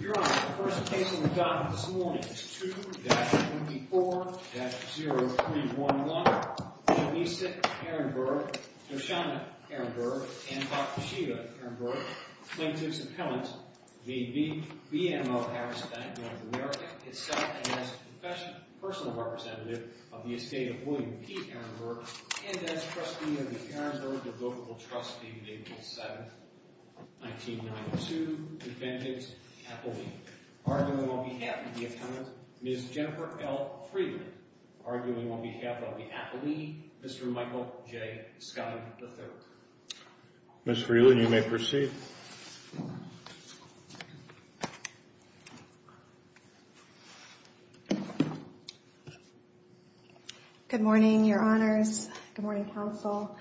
Your Honor, the first case on the docket this morning is 2-24-0311. Melissa Ehrenberg, Noshama Ehrenberg, and Dr. Sheva Ehrenberg, plaintiffs' appellant, v. BMO Harris Bank, N.A., is set against a professional personal representative of the estate of William P. Ehrenberg and as trustee of the Karzner Devotable Trustee, April 7th, 1992, defendants' appellant. Arguing on behalf of the appellant, Ms. Jennifer L. Freeland. Arguing on behalf of the appellee, Mr. Michael J. Scott III. Ms. Freeland, you may proceed. Good morning, Your Honors. Good morning, Counsel.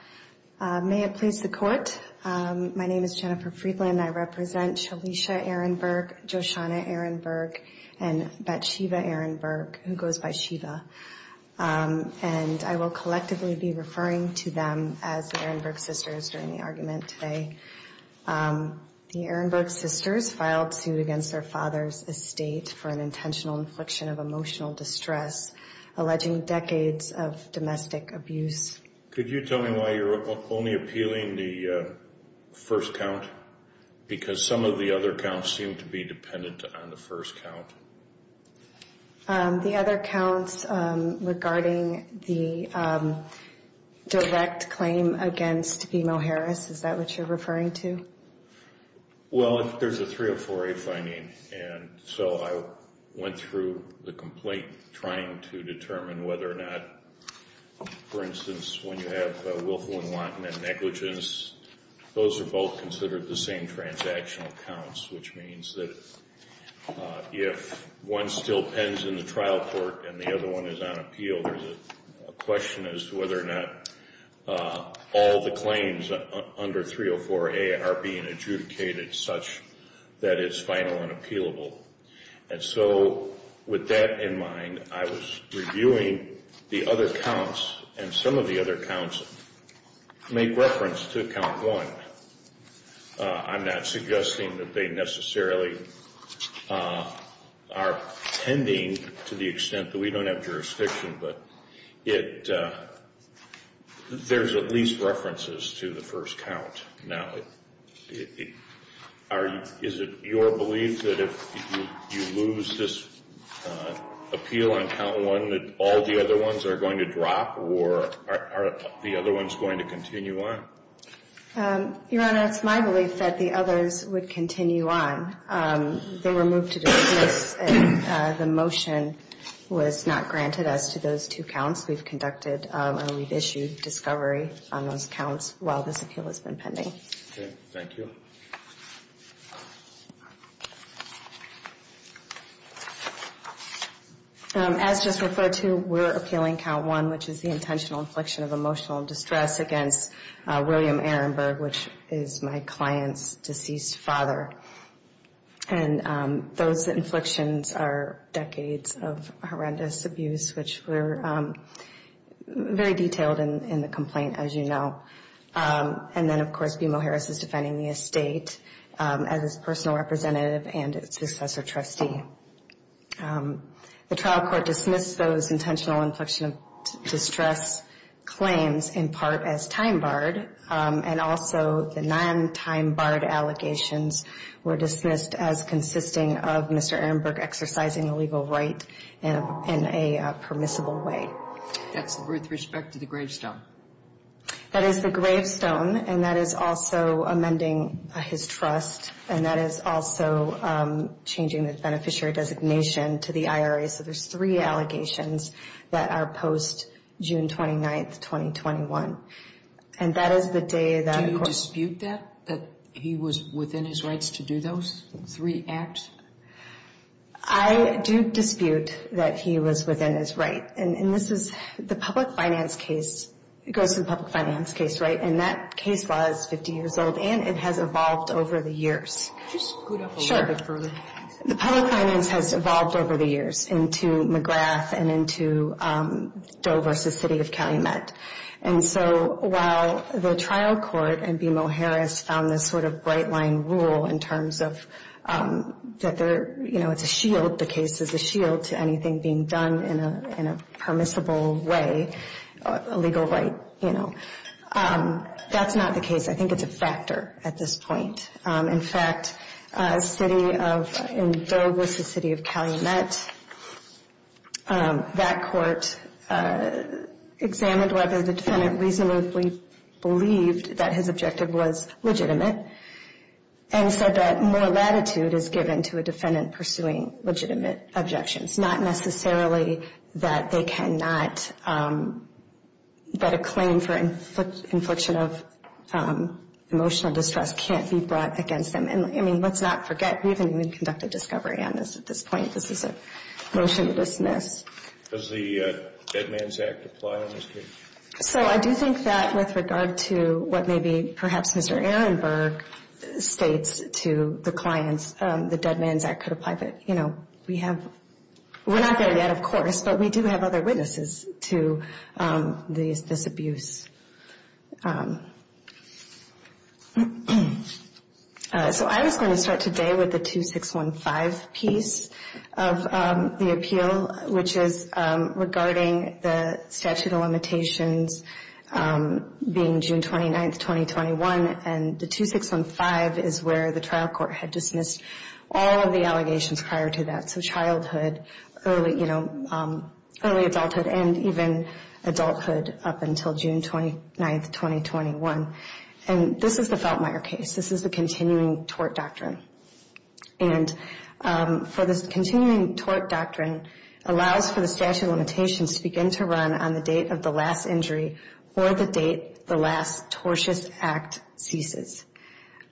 May it please the Court, my name is Jennifer Freeland. I represent Shalisha Ehrenberg, Joshanna Ehrenberg, and Betsheva Ehrenberg, who goes by Sheva. And I will collectively be referring to them as the Ehrenberg sisters during the argument today. The Ehrenberg sisters filed suit against their father's estate for an intentional infliction of emotional distress, alleging decades of domestic abuse. Could you tell me why you're only appealing the first count? Because some of the other counts seem to be dependent on the first count. The other counts regarding the direct claim against BMO Harris, is that what you're referring to? Well, there's a 304A finding, and so I went through the complaint trying to determine whether or not, for instance, when you have willful and wanton negligence, those are both considered the same transactional counts, which means that if one still pens in the trial court and the other one is on appeal, there's a question as to whether or not all the claims under 304A are being adjudicated such that it's final and appealable. And so, with that in mind, I was reviewing the other counts, and some of the other counts make reference to count one. I'm not suggesting that they necessarily are pending to the extent that we don't have jurisdiction, but there's at least references to the first count. Now, is it your belief that if you lose this appeal on count one that all the other ones are going to drop, or are the other ones going to continue on? Your Honor, it's my belief that the others would continue on. They were moved to dismiss, and the motion was not granted as to those two counts we've conducted, and we've issued discovery on those counts while this appeal has been pending. Okay. Thank you. As just referred to, we're appealing count one, which is the intentional infliction of emotional distress against William Ehrenberg, which is my client's deceased father. And those inflictions are decades of horrendous abuse, which were very detailed in the complaint, as you know. And then, of course, BMO Harris is defending the estate as its personal representative and its successor trustee. The trial court dismissed those intentional inflection of distress claims in part as time-barred, and also the non-time-barred allegations were dismissed as consisting of Mr. Ehrenberg exercising a legal right in a permissible way. That's with respect to the gravestone. That is the gravestone, and that is also amending his trust, and that is also changing the beneficiary designation to the IRA. So there's three allegations that are post-June 29, 2021, and that is the day that, of course— Do you dispute that, that he was within his rights to do those three acts? I do dispute that he was within his right, and this is the public finance case. It goes to the public finance case, right? And that case was 50 years old, and it has evolved over the years. Could you scoot up a little bit further? Sure. The public finance has evolved over the years into McGrath and into Doe v. City of Calumet. And so while the trial court and BMO Harris found this sort of bright-line rule in terms of that it's a shield, the case is a shield to anything being done in a permissible way, a legal right. That's not the case. I think it's a factor at this point. In fact, in Doe v. City of Calumet, that court examined whether the defendant reasonably believed that his objective was legitimate and said that more latitude is given to a defendant pursuing legitimate objections, not necessarily that they cannot—that a claim for infliction of emotional distress can't be brought against them. And, I mean, let's not forget, we haven't even conducted discovery on this at this point. This is a motion to dismiss. Does the Dead Man's Act apply in this case? So I do think that with regard to what maybe perhaps Mr. Ehrenberg states to the clients, the Dead Man's Act could apply. But, you know, we have—we're not there yet, of course, but we do have other witnesses to this abuse. So I was going to start today with the 2615 piece of the appeal, which is regarding the statute of limitations being June 29th, 2021. And the 2615 is where the trial court had dismissed all of the allegations prior to that. So childhood, early, you know, early adulthood and even adulthood up until June 29th, 2021. And this is the Feltmire case. This is the continuing tort doctrine. And for this continuing tort doctrine allows for the statute of limitations to begin to run on the date of the last injury or the date the last tortious act ceases.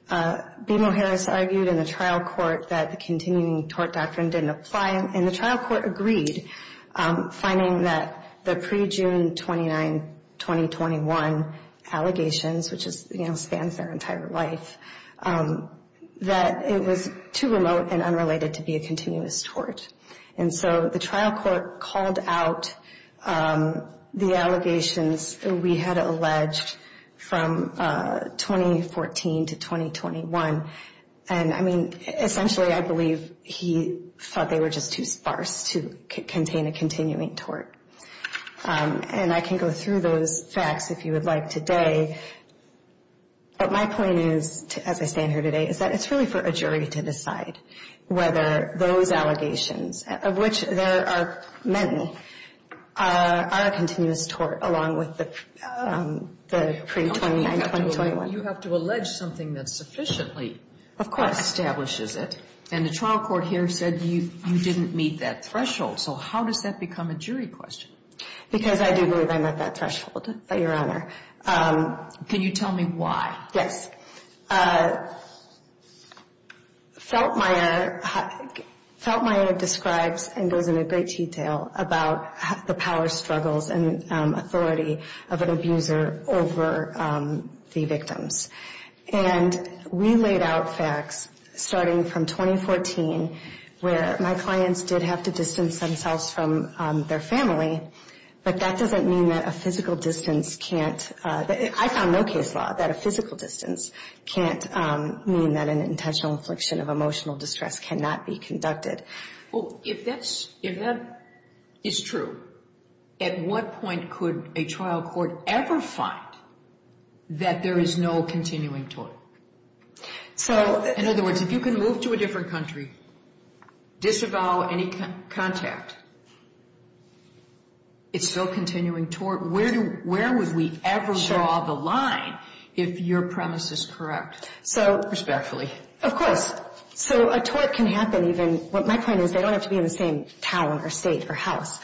BMO Harris argued in the trial court that the continuing tort doctrine didn't apply. And the trial court agreed, finding that the pre-June 29th, 2021 allegations, which spans their entire life, that it was too remote and unrelated to be a continuous tort. And so the trial court called out the allegations we had alleged from 2014 to 2021. And, I mean, essentially, I believe he thought they were just too sparse to contain a continuing tort. And I can go through those facts if you would like today. But my point is, as I stand here today, is that it's really for a jury to decide whether those allegations, of which there are many, are a continuous tort along with the pre-June 29th, 2021. You have to allege something that sufficiently establishes it. And the trial court here said you didn't meet that threshold. So how does that become a jury question? Because I do believe I met that threshold, Your Honor. Can you tell me why? Yes. Feltmeier describes and goes into great detail about the power struggles and authority of an abuser over the victims. And we laid out facts starting from 2014 where my clients did have to distance themselves from their family. But that doesn't mean that a physical distance can't, I found no case law that a physical distance can't mean that an intentional infliction of emotional distress cannot be conducted. Well, if that is true, at what point could a trial court ever find that there is no continuing tort? So, in other words, if you can move to a different country, disavow any contact, it's still continuing tort. Where would we ever draw the line if your premise is correct? Respectfully. Of course. So a tort can happen even, what my point is, they don't have to be in the same town or state or house.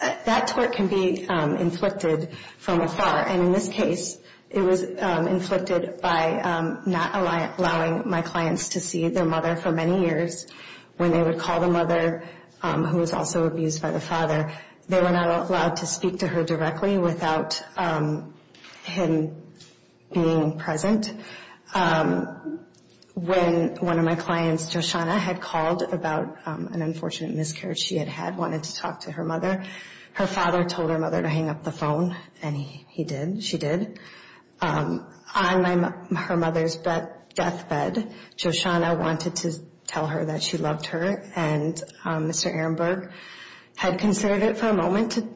That tort can be inflicted from afar. And in this case, it was inflicted by not allowing my clients to see their mother for many years. When they would call the mother, who was also abused by the father, they were not allowed to speak to her directly without him being present. When one of my clients, Joshanna, had called about an unfortunate miscarriage she had had, wanted to talk to her mother, her father told her mother to hang up the phone, and he did, she did. On her mother's deathbed, Joshanna wanted to tell her that she loved her, and Mr. Ehrenberg had considered it for a moment to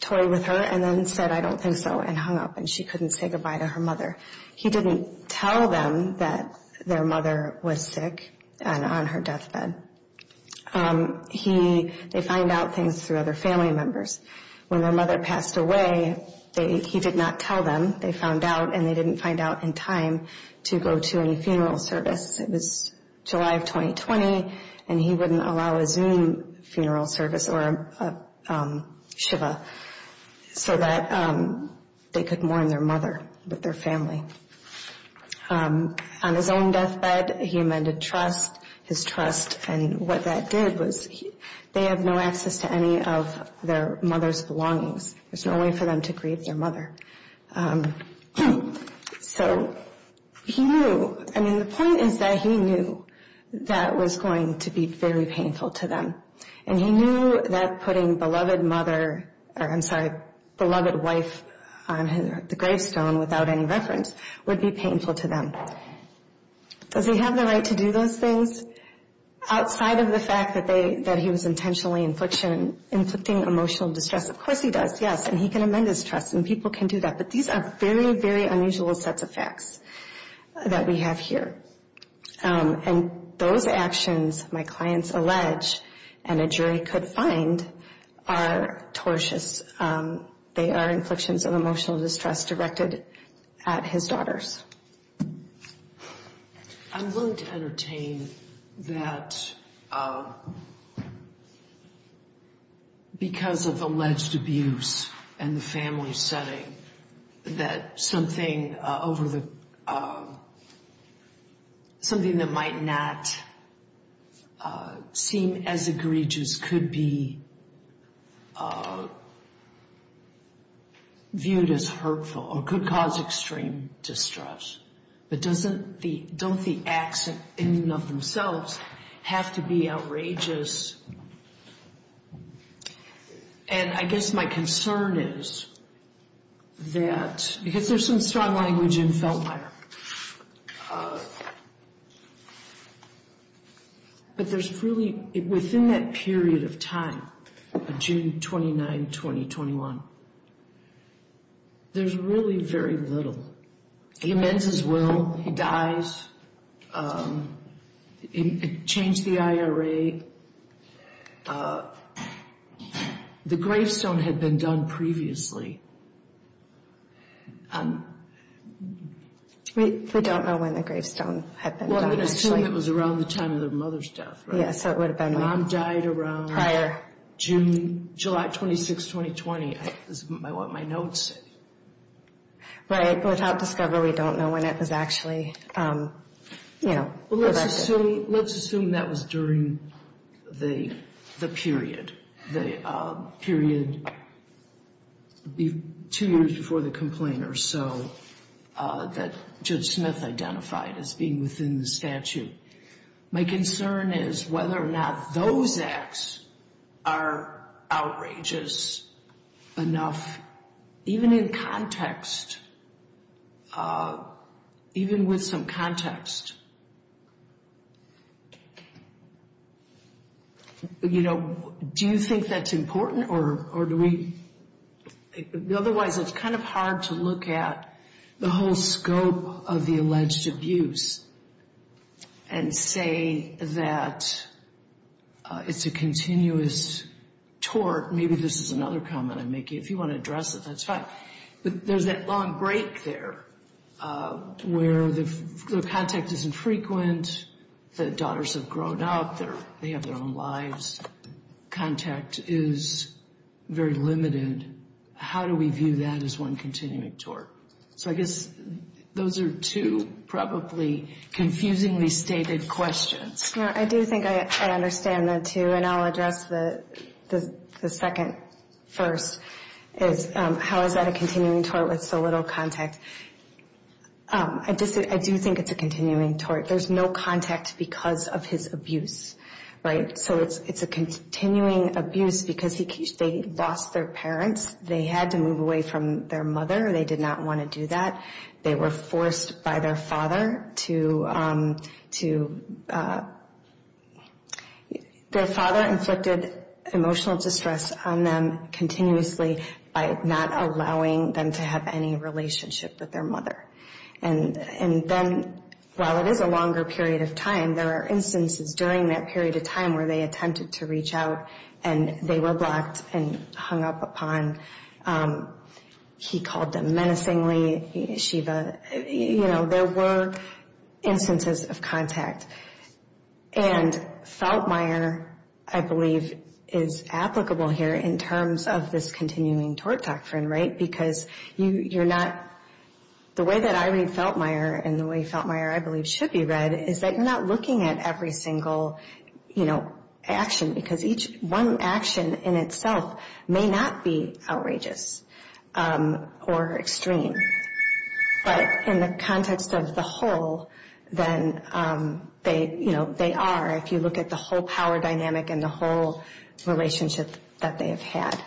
toy with her and then said, I don't think so, and hung up, and she couldn't say goodbye to her mother. He didn't tell them that their mother was sick and on her deathbed. They find out things through other family members. When their mother passed away, he did not tell them. They found out, and they didn't find out in time to go to any funeral service. It was July of 2020, and he wouldn't allow a Zoom funeral service or a shiva so that they could mourn their mother with their family. On his own deathbed, he amended trust, his trust, and what that did was they have no access to any of their mother's belongings. There's no way for them to grieve their mother. So he knew, I mean, the point is that he knew that was going to be very painful to them, and he knew that putting beloved mother, I'm sorry, beloved wife on the gravestone without any reference would be painful to them. Does he have the right to do those things outside of the fact that he was intentionally inflicting emotional distress? Of course he does, yes, and he can amend his trust, and people can do that. But these are very, very unusual sets of facts that we have here. And those actions, my clients allege, and a jury could find are tortious. They are inflictions of emotional distress directed at his daughters. I'm willing to entertain that because of alleged abuse and the family setting, that something that might not seem as egregious could be viewed as hurtful or could cause extreme distress. But don't the acts in and of themselves have to be outrageous? And I guess my concern is that, because there's some strong language in Feltmire, but there's really, within that period of time, June 29, 2021, there's really very little. He amends his will, he dies, changed the IRA, the gravestone had been done previously. We don't know when the gravestone had been done. Well, it was around the time of their mother's death, right? Yes, so it would have been prior. Mom died around July 26, 2020. This is what my notes say. But without discovery, we don't know when it was actually, you know. Well, let's assume that was during the period, the period two years before the complainer, so that Judge Smith identified as being within the statute. My concern is whether or not those acts are outrageous enough, even in context, even with some context. You know, do you think that's important or do we, otherwise it's kind of hard to look at the whole scope of the alleged abuse. And say that it's a continuous tort. Maybe this is another comment I'm making. If you want to address it, that's fine. But there's that long break there where the contact isn't frequent, the daughters have grown up, they have their own lives, contact is very limited. How do we view that as one continuing tort? So I guess those are two probably confusingly stated questions. I do think I understand that, too. And I'll address the second first, is how is that a continuing tort with so little contact? I do think it's a continuing tort. There's no contact because of his abuse, right? So it's a continuing abuse because they lost their parents. They had to move away from their mother. They did not want to do that. They were forced by their father to, their father inflicted emotional distress on them continuously by not allowing them to have any relationship with their mother. And then while it is a longer period of time, there are instances during that period of time where they attempted to reach out and they were blocked and hung up upon. He called them menacingly, Shiva. You know, there were instances of contact. And Feltmire, I believe, is applicable here in terms of this continuing tort doctrine, right? Because you're not, the way that I read Feltmire and the way Feltmire, I believe, should be read, is that you're not looking at every single, you know, action because each one action in itself may not be outrageous or extreme. But in the context of the whole, then they, you know, they are. If you look at the whole power dynamic and the whole relationship that they have had.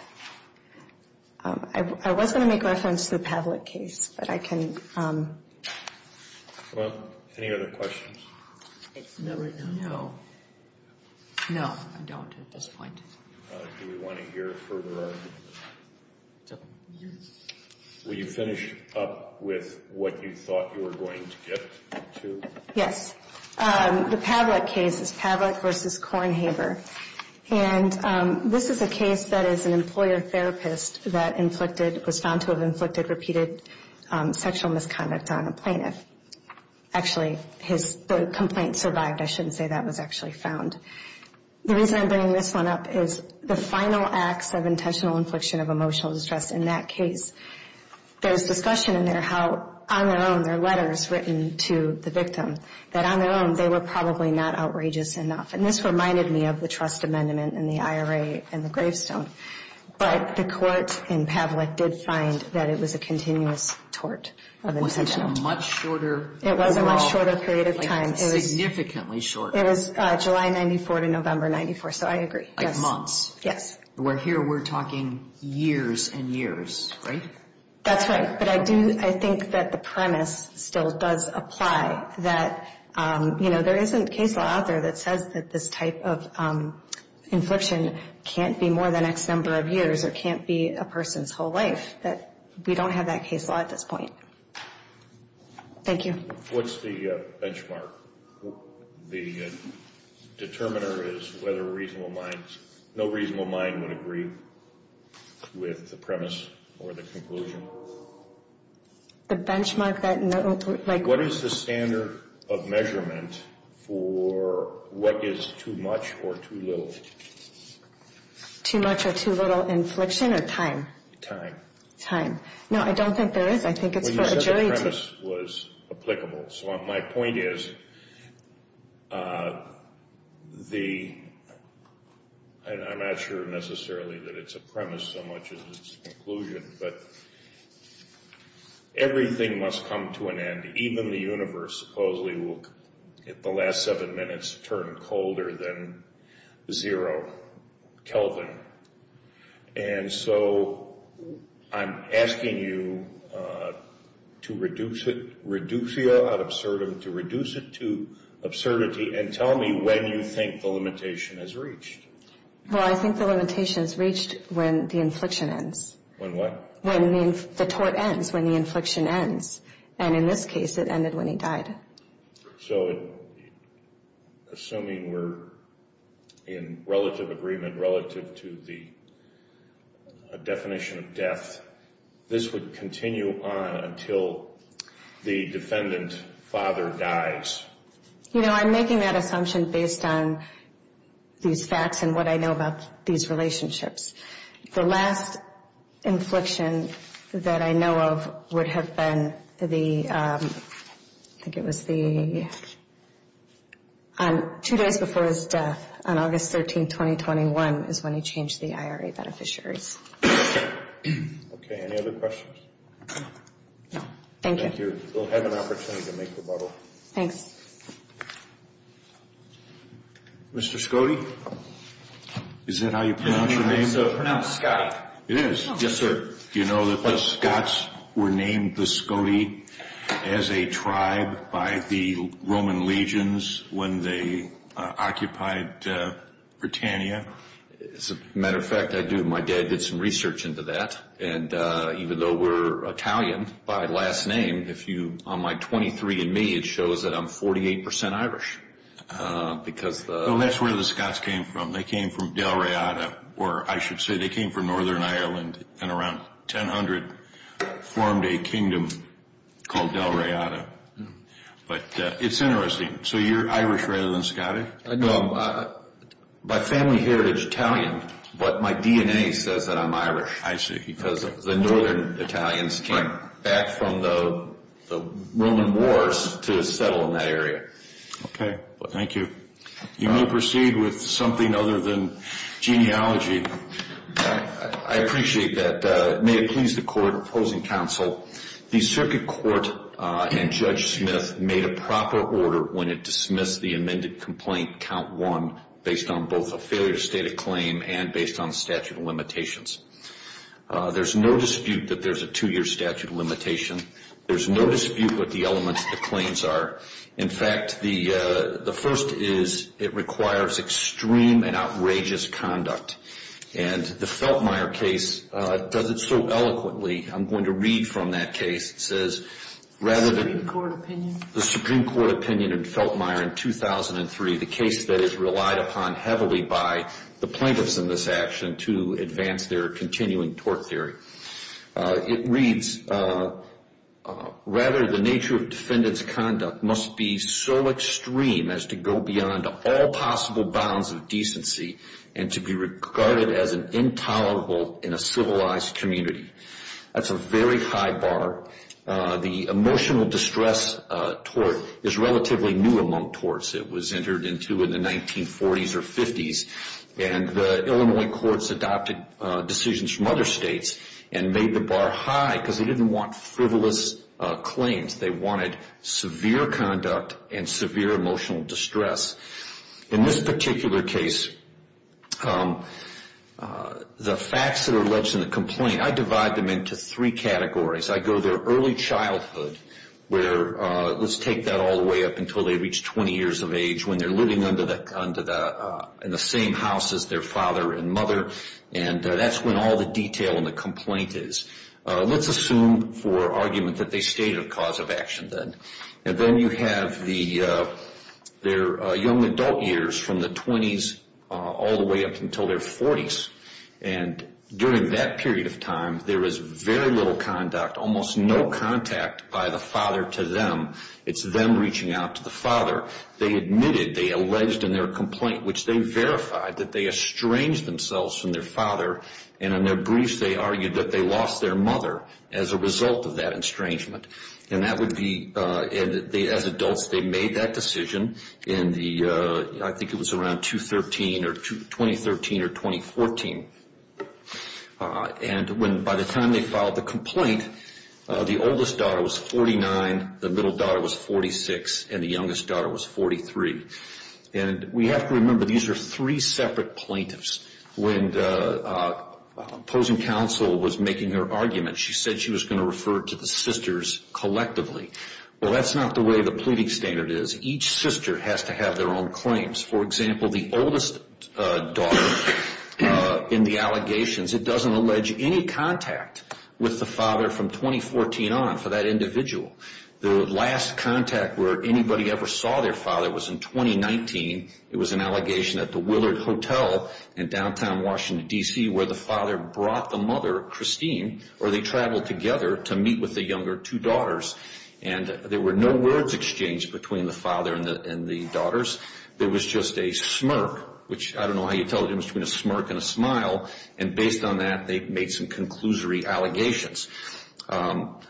I was going to make reference to the Pavlik case, but I can. Well, any other questions? No. No, I don't at this point. Do we want to hear further arguments? Yes. Will you finish up with what you thought you were going to get to? Yes. The Pavlik case is Pavlik v. Kornhaber. And this is a case that is an employer therapist that inflicted, was found to have inflicted repeated sexual misconduct on a plaintiff. Actually, his complaint survived. I shouldn't say that was actually found. The reason I'm bringing this one up is the final acts of intentional infliction of emotional distress. In that case, there's discussion in there how, on their own, there are letters written to the victim that, on their own, they were probably not outrageous enough. And this reminded me of the trust amendment in the IRA and the gravestone. But the court in Pavlik did find that it was a continuous tort of intentional. It was a much shorter period of time. Significantly shorter. It was July 94 to November 94, so I agree. Like months. Yes. Where here we're talking years and years, right? That's right. But I think that the premise still does apply, that, you know, there isn't case law out there that says that this type of infliction can't be more than X number of years or can't be a person's whole life. We don't have that case law at this point. Thank you. What's the benchmark? The determiner is whether a reasonable mind, no reasonable mind would agree with the premise or the conclusion. The benchmark that, like what is the standard of measurement for what is too much or too little? Too much or too little infliction or time? No, I don't think there is. I think it's for a jury to. Well, you said the premise was applicable. So my point is the, and I'm not sure necessarily that it's a premise so much as it's a conclusion, but everything must come to an end. Even the universe supposedly will in the last seven minutes turn colder than zero Kelvin. And so I'm asking you to reduce it, reducia ad absurdum, to reduce it to absurdity and tell me when you think the limitation is reached. Well, I think the limitation is reached when the infliction ends. When what? When the tort ends, when the infliction ends. And in this case, it ended when he died. So assuming we're in relative agreement relative to the definition of death, this would continue on until the defendant father dies? You know, I'm making that assumption based on these facts and what I know about these relationships. The last infliction that I know of would have been the, I think it was the, two days before his death on August 13, 2021 is when he changed the IRA beneficiaries. Okay, any other questions? No, thank you. Thank you. We'll have an opportunity to make rebuttal. Thanks. Mr. Scotty, is that how you pronounce your name? It's pronounced Scotty. It is? Yes, sir. Do you know that the Scots were named the Scotty as a tribe by the Roman legions when they occupied Britannia? As a matter of fact, I do. My dad did some research into that. And even though we're Italian by last name, if you, on my 23 and me, it shows that I'm 48 percent Irish. Well, that's where the Scots came from. They came from Del Raiata, or I should say they came from Northern Ireland and around 1000 formed a kingdom called Del Raiata. But it's interesting. So you're Irish rather than Scottish? No, my family heritage is Italian, but my DNA says that I'm Irish. I see. Because the Northern Italians came back from the Roman Wars to settle in that area. Okay. Thank you. You may proceed with something other than genealogy. I appreciate that. May it please the Court opposing counsel, the Circuit Court and Judge Smith made a proper order when it dismissed the amended complaint count one based on both a failure to state a claim and based on statute of limitations. There's no dispute that there's a two-year statute of limitation. There's no dispute what the elements of the claims are. In fact, the first is it requires extreme and outrageous conduct. And the Feltmire case does it so eloquently. I'm going to read from that case. The Supreme Court opinion? The Supreme Court opinion in Feltmire in 2003, the case that is relied upon heavily by the plaintiffs in this action to advance their continuing tort theory. It reads, rather the nature of defendant's conduct must be so extreme as to go beyond all possible bounds of decency and to be regarded as an intolerable in a civilized community. That's a very high bar. The emotional distress tort is relatively new among torts. It was entered into in the 1940s or 50s. And the Illinois courts adopted decisions from other states and made the bar high because they didn't want frivolous claims. They wanted severe conduct and severe emotional distress. In this particular case, the facts that are alleged in the complaint, I divide them into three categories. I go to their early childhood where let's take that all the way up until they reach 20 years of age when they're living in the same house as their father and mother. And that's when all the detail in the complaint is. Let's assume for argument that they stayed a cause of action then. And then you have their young adult years from the 20s all the way up until their 40s. And during that period of time, there was very little conduct, almost no contact by the father to them. It's them reaching out to the father. They admitted, they alleged in their complaint, which they verified that they estranged themselves from their father. And in their briefs, they argued that they lost their mother as a result of that estrangement. And as adults, they made that decision in I think it was around 2013 or 2014. And by the time they filed the complaint, the oldest daughter was 49, the middle daughter was 46, and the youngest daughter was 43. And we have to remember these are three separate plaintiffs. When opposing counsel was making her argument, she said she was going to refer to the sisters collectively. Well, that's not the way the pleading standard is. Each sister has to have their own claims. For example, the oldest daughter in the allegations, it doesn't allege any contact with the father from 2014 on for that individual. The last contact where anybody ever saw their father was in 2019. It was an allegation at the Willard Hotel in downtown Washington, D.C., where the father brought the mother, Christine, where they traveled together to meet with the younger two daughters. And there were no words exchanged between the father and the daughters. There was just a smirk, which I don't know how you tell the difference between a smirk and a smile. And based on that, they made some conclusory allegations.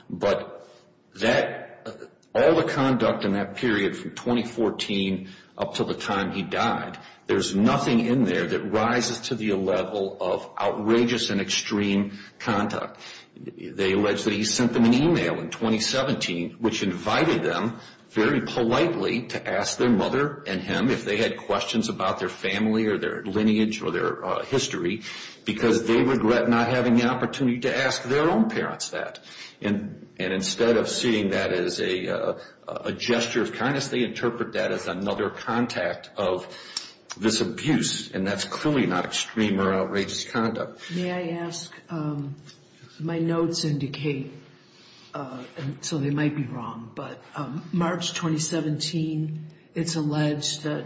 But all the conduct in that period from 2014 up to the time he died, there's nothing in there that rises to the level of outrageous and extreme conduct. They allege that he sent them an email in 2017, which invited them very politely to ask their mother and him if they had questions about their family or their lineage or their history because they regret not having the opportunity to ask their own parents that. And instead of seeing that as a gesture of kindness, they interpret that as another contact of this abuse. And that's clearly not extreme or outrageous conduct. May I ask, my notes indicate, and so they might be wrong, but March 2017, it's alleged that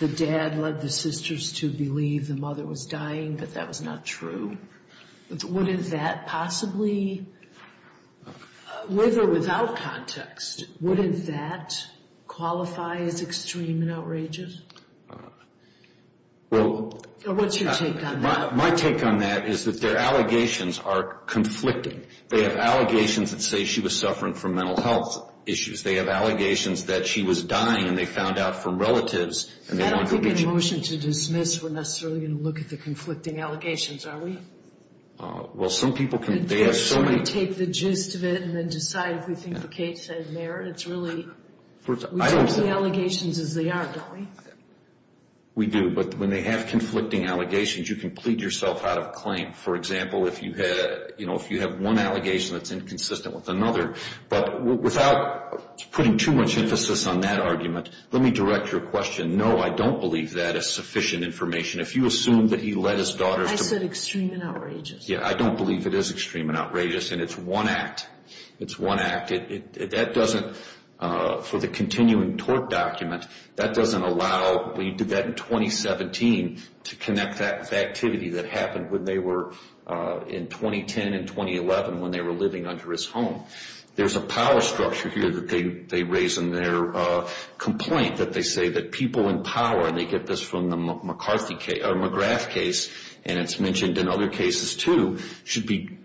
the dad led the sisters to believe the mother was dying, but that was not true. Would that possibly, with or without context, would that qualify as extreme and outrageous? What's your take on that? My take on that is that their allegations are conflicting. They have allegations that say she was suffering from mental health issues. They have allegations that she was dying and they found out from relatives. I don't think in a motion to dismiss we're necessarily going to look at the conflicting allegations, are we? Well, some people can, they have so many. Should we take the gist of it and then decide if we think the case has merit? It's really, we judge the allegations as they are, don't we? We do, but when they have conflicting allegations, you can plead yourself out of a claim. For example, if you have one allegation that's inconsistent with another, but without putting too much emphasis on that argument, let me direct your question. No, I don't believe that is sufficient information. If you assume that he led his daughters to believe. I said extreme and outrageous. Yeah, I don't believe it is extreme and outrageous, and it's one act. It's one act. That doesn't, for the continuing tort document, that doesn't allow, we did that in 2017 to connect that with activity that happened when they were, in 2010 and 2011, when they were living under his home. There's a power structure here that they raise in their complaint that they say that people in power, and they get this from the McGrath case, and it's mentioned in other cases too, should be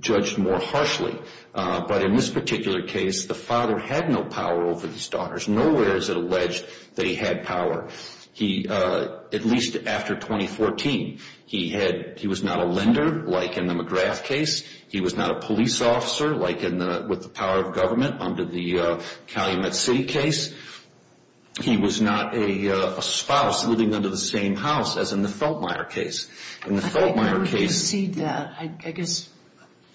judged more harshly. But in this particular case, the father had no power over his daughters. Nowhere is it alleged that he had power, at least after 2014. He was not a lender, like in the McGrath case. He was not a police officer, like with the power of government under the Calumet City case. He was not a spouse living under the same house as in the Feltmire case. In the Feltmire case. I would concede that, I guess,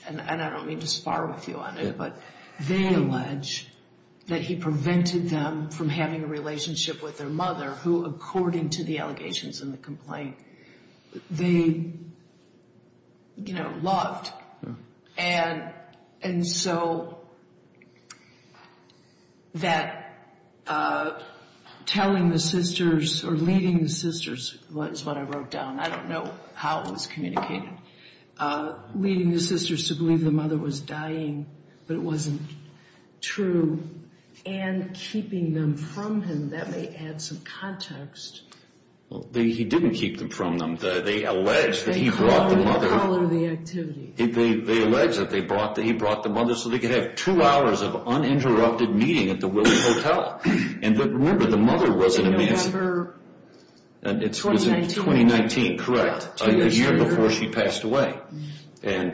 and I don't mean to spar with you on it, but they allege that he prevented them from having a relationship with their mother, who, according to the allegations in the complaint, they, you know, loved. And so that telling the sisters, or leading the sisters, is what I wrote down. I don't know how it was communicated. Leading the sisters to believe the mother was dying, but it wasn't true, and keeping them from him. That may add some context. He didn't keep them from them. They allege that he brought the mother. They call it the activity. They allege that he brought the mother so they could have two hours of uninterrupted meeting at the Willis Hotel. And remember, the mother was in a mansion. In November 2019. Correct. A year before she passed away. And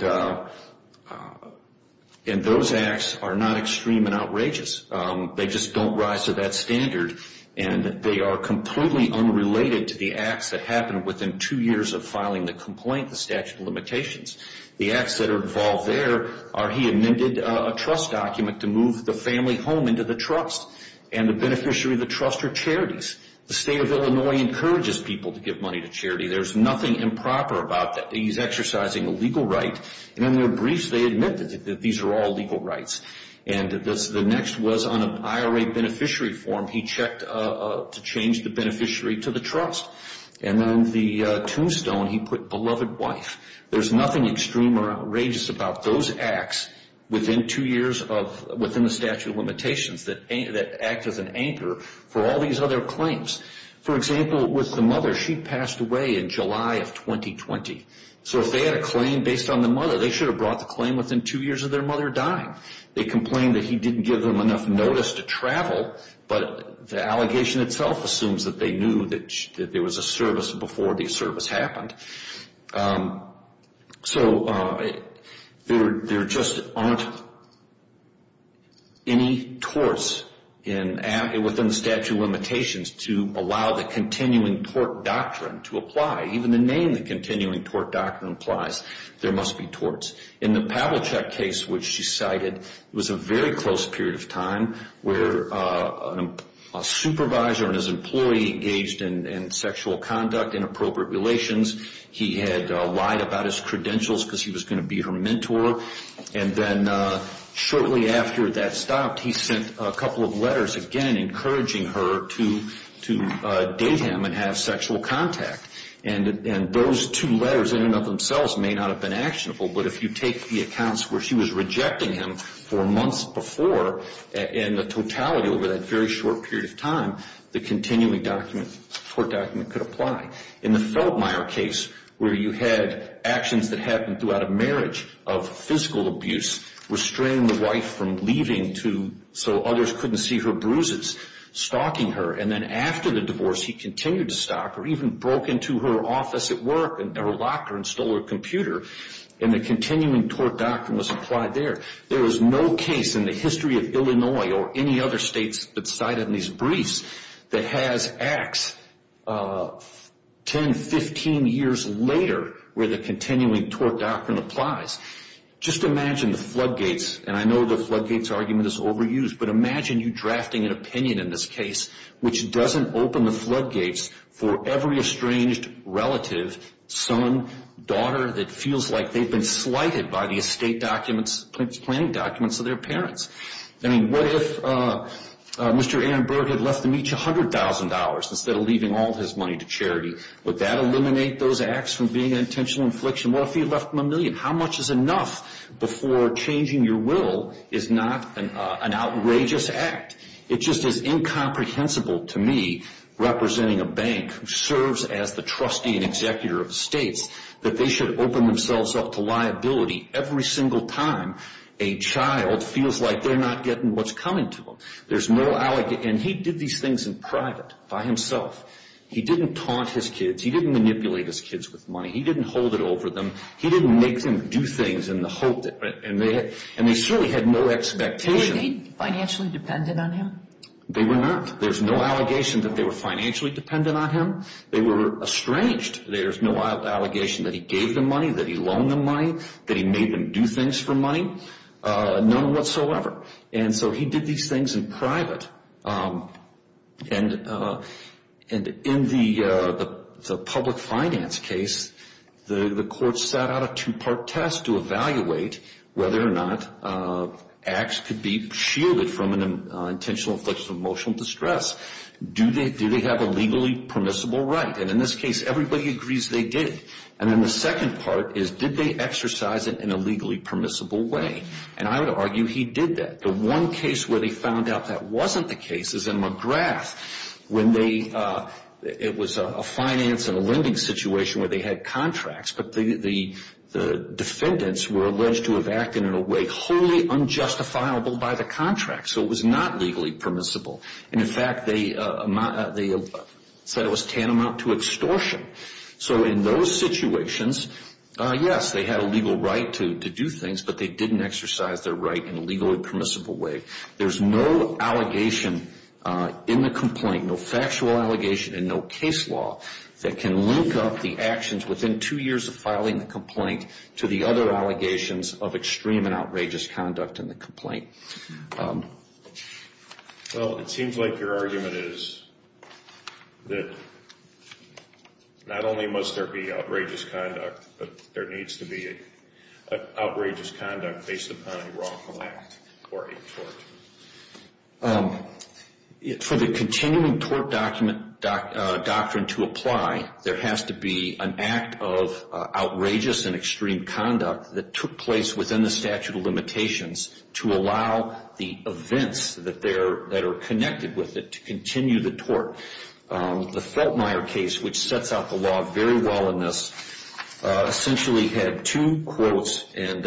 those acts are not extreme and outrageous. They just don't rise to that standard. And they are completely unrelated to the acts that happened within two years of filing the complaint, the statute of limitations. The acts that are involved there are he amended a trust document to move the family home into the trust. And the beneficiary of the trust are charities. The state of Illinois encourages people to give money to charity. There's nothing improper about that. He's exercising a legal right. And in their briefs, they admit that these are all legal rights. And the next was on an IRA beneficiary form, he checked to change the beneficiary to the trust. And on the tombstone, he put beloved wife. There's nothing extreme or outrageous about those acts within two years of within the statute of limitations that act as an anchor for all these other claims. For example, with the mother, she passed away in July of 2020. So if they had a claim based on the mother, they should have brought the claim within two years of their mother dying. They complained that he didn't give them enough notice to travel. But the allegation itself assumes that they knew that there was a service before the service happened. So there just aren't any torts within the statute of limitations to allow the continuing tort doctrine to apply. Even the name the continuing tort doctrine applies. There must be torts. In the Pavelchuk case, which she cited, it was a very close period of time where a supervisor and his employee engaged in sexual conduct, inappropriate relations. He had lied about his credentials because he was going to be her mentor. And then shortly after that stopped, he sent a couple of letters, again, encouraging her to date him and have sexual contact. And those two letters in and of themselves may not have been actionable, but if you take the accounts where she was rejecting him for months before, in the totality over that very short period of time, the continuing tort document could apply. In the Feltmire case, where you had actions that happened throughout a marriage of physical abuse, restraining the wife from leaving so others couldn't see her bruises, stalking her. And then after the divorce, he continued to stalk her, even broke into her office at work and locked her and stole her computer. And the continuing tort doctrine was applied there. There was no case in the history of Illinois or any other states that cited in these briefs that has acts 10, 15 years later where the continuing tort doctrine applies. Just imagine the floodgates, and I know the floodgates argument is overused, but imagine you drafting an opinion in this case which doesn't open the floodgates for every estranged relative, son, daughter that feels like they've been slighted by the estate documents, planning documents of their parents. I mean, what if Mr. Aaron Berg had left them each $100,000 instead of leaving all his money to charity? Would that eliminate those acts from being an intentional infliction? What if he left them a million? How much is enough before changing your will is not an outrageous act? It just is incomprehensible to me, representing a bank which serves as the trustee and executor of the states, that they should open themselves up to liability every single time a child feels like they're not getting what's coming to them. There's no allegation. And he did these things in private by himself. He didn't taunt his kids. He didn't manipulate his kids with money. He didn't hold it over them. He didn't make them do things in the hope, and they certainly had no expectation. Were they financially dependent on him? They were not. There's no allegation that they were financially dependent on him. They were estranged. There's no allegation that he gave them money, that he loaned them money, that he made them do things for money, none whatsoever. And so he did these things in private. And in the public finance case, the court set out a two-part test to evaluate whether or not acts could be shielded from an intentional infliction of emotional distress. Do they have a legally permissible right? And in this case, everybody agrees they did. And then the second part is, did they exercise it in a legally permissible way? And I would argue he did that. The one case where they found out that wasn't the case is in McGrath when it was a finance and a lending situation where they had contracts, but the defendants were alleged to have acted in a way wholly unjustifiable by the contract. So it was not legally permissible. And, in fact, they said it was tantamount to extortion. So in those situations, yes, they had a legal right to do things, but they didn't exercise their right in a legally permissible way. There's no allegation in the complaint, no factual allegation, and no case law that can link up the actions within two years of filing the complaint to the other allegations of extreme and outrageous conduct in the complaint. Well, it seems like your argument is that not only must there be outrageous conduct, but there needs to be outrageous conduct based upon a wrongful act or a tort. For the continuing tort doctrine to apply, there has to be an act of outrageous and extreme conduct that took place within the statute of limitations to allow the events that are connected with it to continue the tort. The Feltmire case, which sets out the law very well in this, essentially had two quotes, and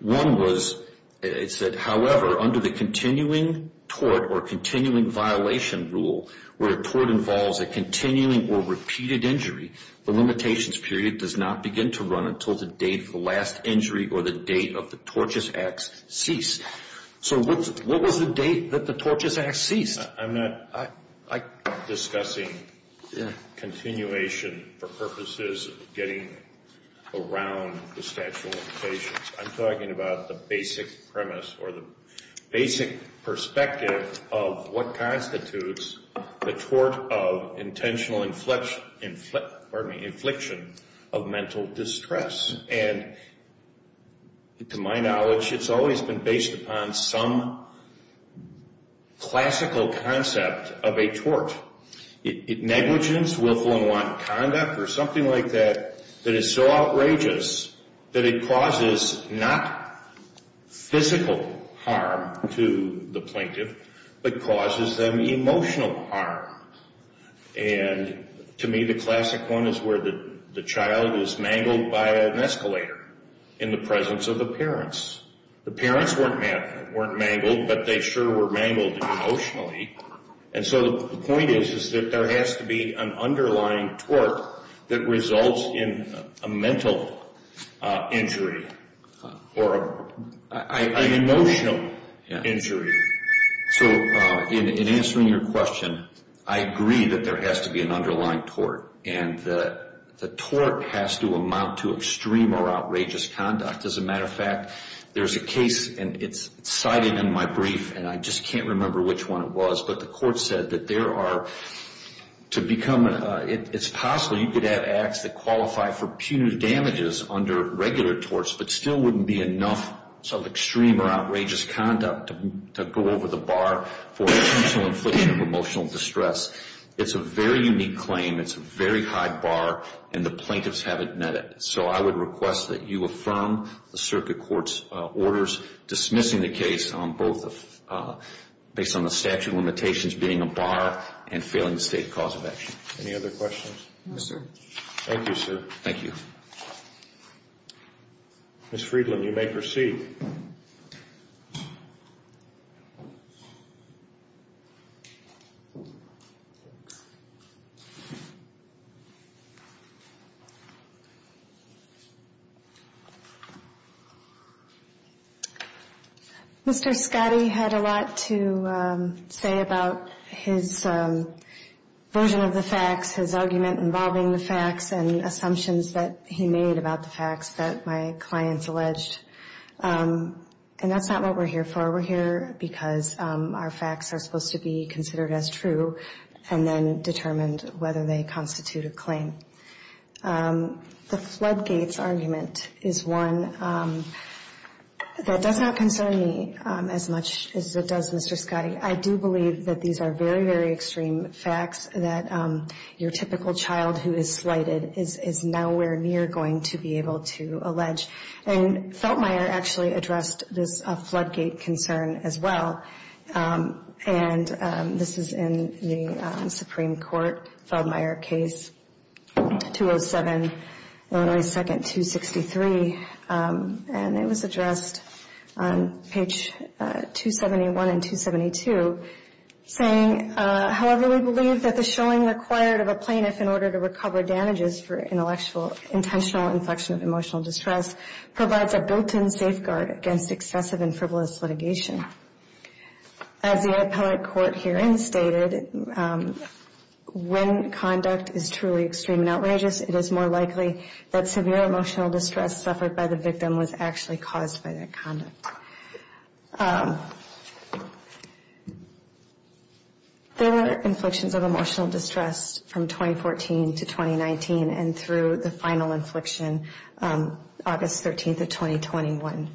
one was it said, however, under the continuing tort or continuing violation rule, where a tort involves a continuing or repeated injury, the limitations period does not begin to run until the date of the last injury or the date of the tortious acts cease. So what was the date that the tortious acts ceased? I'm not discussing continuation for purposes of getting around the statute of limitations. I'm talking about the basic premise or the basic perspective of what constitutes the tort of intentional inflection of mental distress. And to my knowledge, it's always been based upon some classical concept of a tort. Negligence, willful and want conduct, or something like that that is so outrageous that it causes not physical harm to the plaintiff, but causes them emotional harm. And to me, the classic one is where the child is mangled by an escalator in the presence of the parents. The parents weren't mangled, but they sure were mangled emotionally. And so the point is that there has to be an underlying tort that results in a mental injury or an emotional injury. So in answering your question, I agree that there has to be an underlying tort, and the tort has to amount to extreme or outrageous conduct. As a matter of fact, there's a case, and it's cited in my brief, and I just can't remember which one it was, but the court said that there are, to become, it's possible you could have acts that qualify for punitive damages under regular torts, but still wouldn't be enough of extreme or outrageous conduct to go over the bar for intentional inflection of emotional distress. It's a very unique claim. It's a very high bar, and the plaintiffs haven't met it. So I would request that you affirm the circuit court's orders dismissing the case on both, based on the statute of limitations being a bar and failing the state cause of action. Any other questions? No, sir. Thank you, sir. Thank you. Ms. Friedland, you may proceed. Mr. Scotty had a lot to say about his version of the facts, his argument involving the facts, and assumptions that he made about the facts that my clients alleged, and that's not what we're here for. We're here because our facts are supposed to be considered as true, and then determined whether they constitute a claim. The floodgates argument is one that does not concern me as much as it does Mr. Scotty. I do believe that these are very, very extreme facts that your typical child who is slighted is nowhere near going to be able to allege. And Feldmeyer actually addressed this floodgate concern as well. And this is in the Supreme Court, Feldmeyer case, 207, Illinois 2nd, 263. And it was addressed on page 271 and 272, saying, However, we believe that the showing required of a plaintiff in order to recover damages for intentional inflection of emotional distress provides a built-in safeguard against excessive and frivolous litigation. As the appellate court herein stated, when conduct is truly extreme and outrageous, it is more likely that severe emotional distress suffered by the victim was actually caused by that conduct. There were inflections of emotional distress from 2014 to 2019, and through the final inflection, August 13th of 2021.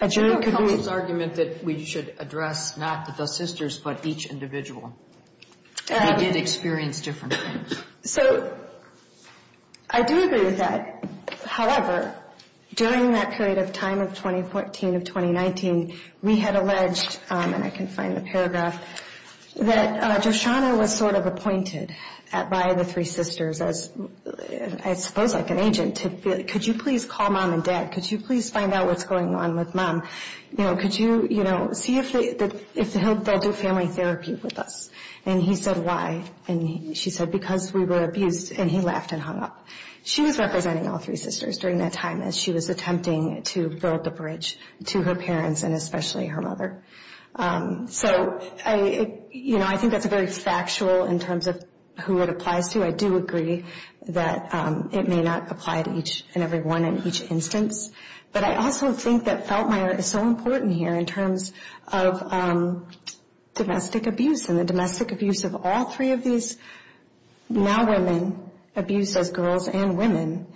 A jury could do with argument that we should address not the sisters, but each individual. We did experience different things. So I do agree with that. However, during that period of time of 2014 and 2019, we had alleged, and I can find the paragraph, that Joshanna was sort of appointed by the three sisters as, I suppose, like an agent to, Could you please call mom and dad? Could you please find out what's going on with mom? You know, could you, you know, see if they'll do family therapy with us? And he said, why? And she said, because we were abused. And he laughed and hung up. She was representing all three sisters during that time as she was attempting to build a bridge to her parents, and especially her mother. So, you know, I think that's very factual in terms of who it applies to. I do agree that it may not apply to each and every one in each instance. But I also think that Feltmire is so important here in terms of domestic abuse and the domestic abuse of all three of these now women, abused as girls and women.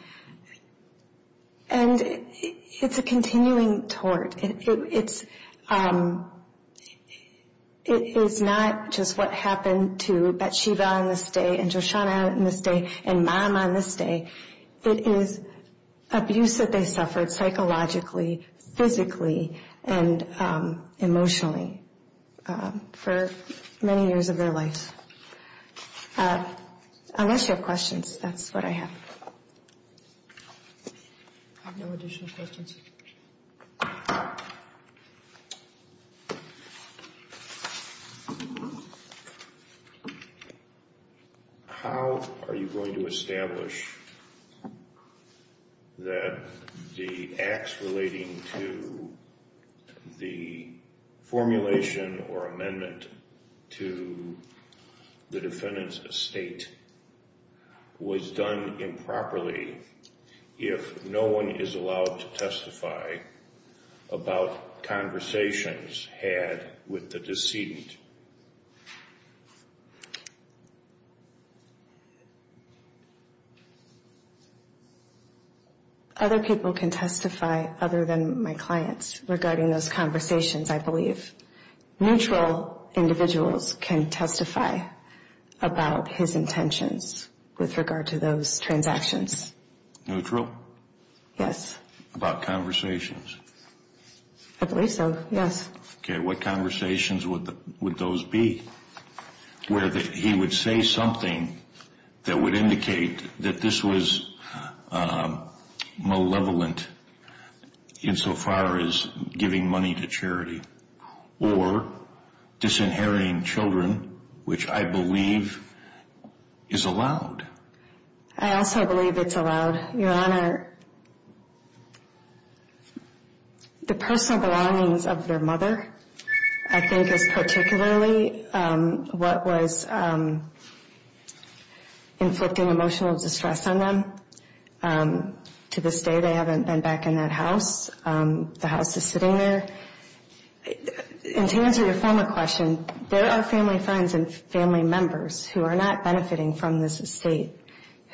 And it's a continuing tort. It's not just what happened to Batsheva on this day and Joshanna on this day and mom on this day. It is abuse that they suffered psychologically, physically, and emotionally for many years of their lives. Unless you have questions, that's what I have. I have no additional questions. How are you going to establish that the acts relating to the formulation or amendment to the defendant's estate was done improperly if no one is allowed to testify about conversations had with the decedent? Other people can testify other than my clients regarding those conversations, I believe. Neutral individuals can testify about his intentions with regard to those transactions. Yes. About conversations? I believe so, yes. Okay. What conversations would those be where he would say something that would indicate that this was malevolent insofar as giving money to charity or disinheriting children, which I believe is allowed? I also believe it's allowed. Your Honor, the personal belongings of their mother I think is particularly what was inflicting emotional distress on them. To this day, they haven't been back in that house. The house is sitting there. And to answer your former question, there are family friends and family members who are not benefiting from this estate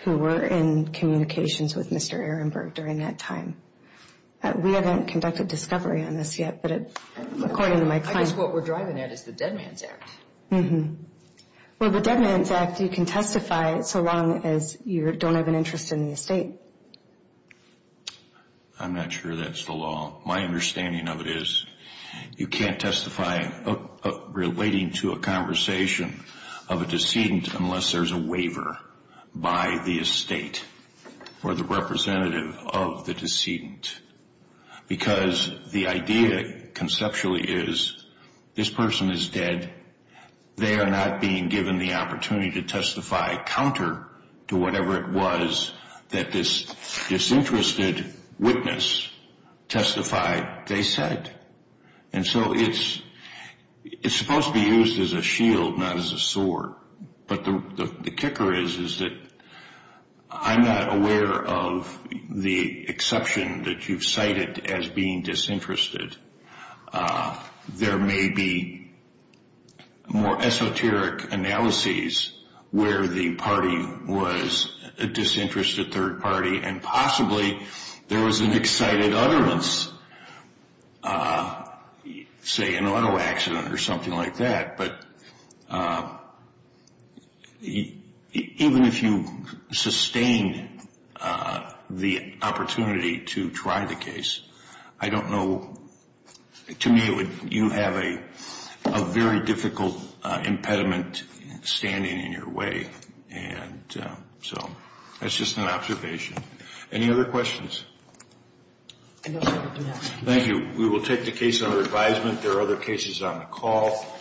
who were in communications with Mr. Ehrenberg during that time. We haven't conducted discovery on this yet, but according to my clients... I guess what we're driving at is the Dead Man's Act. Well, the Dead Man's Act you can testify so long as you don't have an interest in the estate. I'm not sure that's the law. My understanding of it is you can't testify relating to a conversation of a decedent unless there's a waiver by the estate or the representative of the decedent. Because the idea conceptually is this person is dead. They are not being given the opportunity to testify counter to whatever it was that this disinterested witness testified they said. And so it's supposed to be used as a shield, not as a sword. But the kicker is that I'm not aware of the exception that you've cited as being disinterested. There may be more esoteric analyses where the party was a disinterested third party and possibly there was an excited utterance, say an auto accident or something like that. But even if you sustain the opportunity to try the case, I don't know... To me, you have a very difficult impediment standing in your way. And so that's just an observation. Any other questions? Thank you. We will take the case under advisement. There are other cases on the call.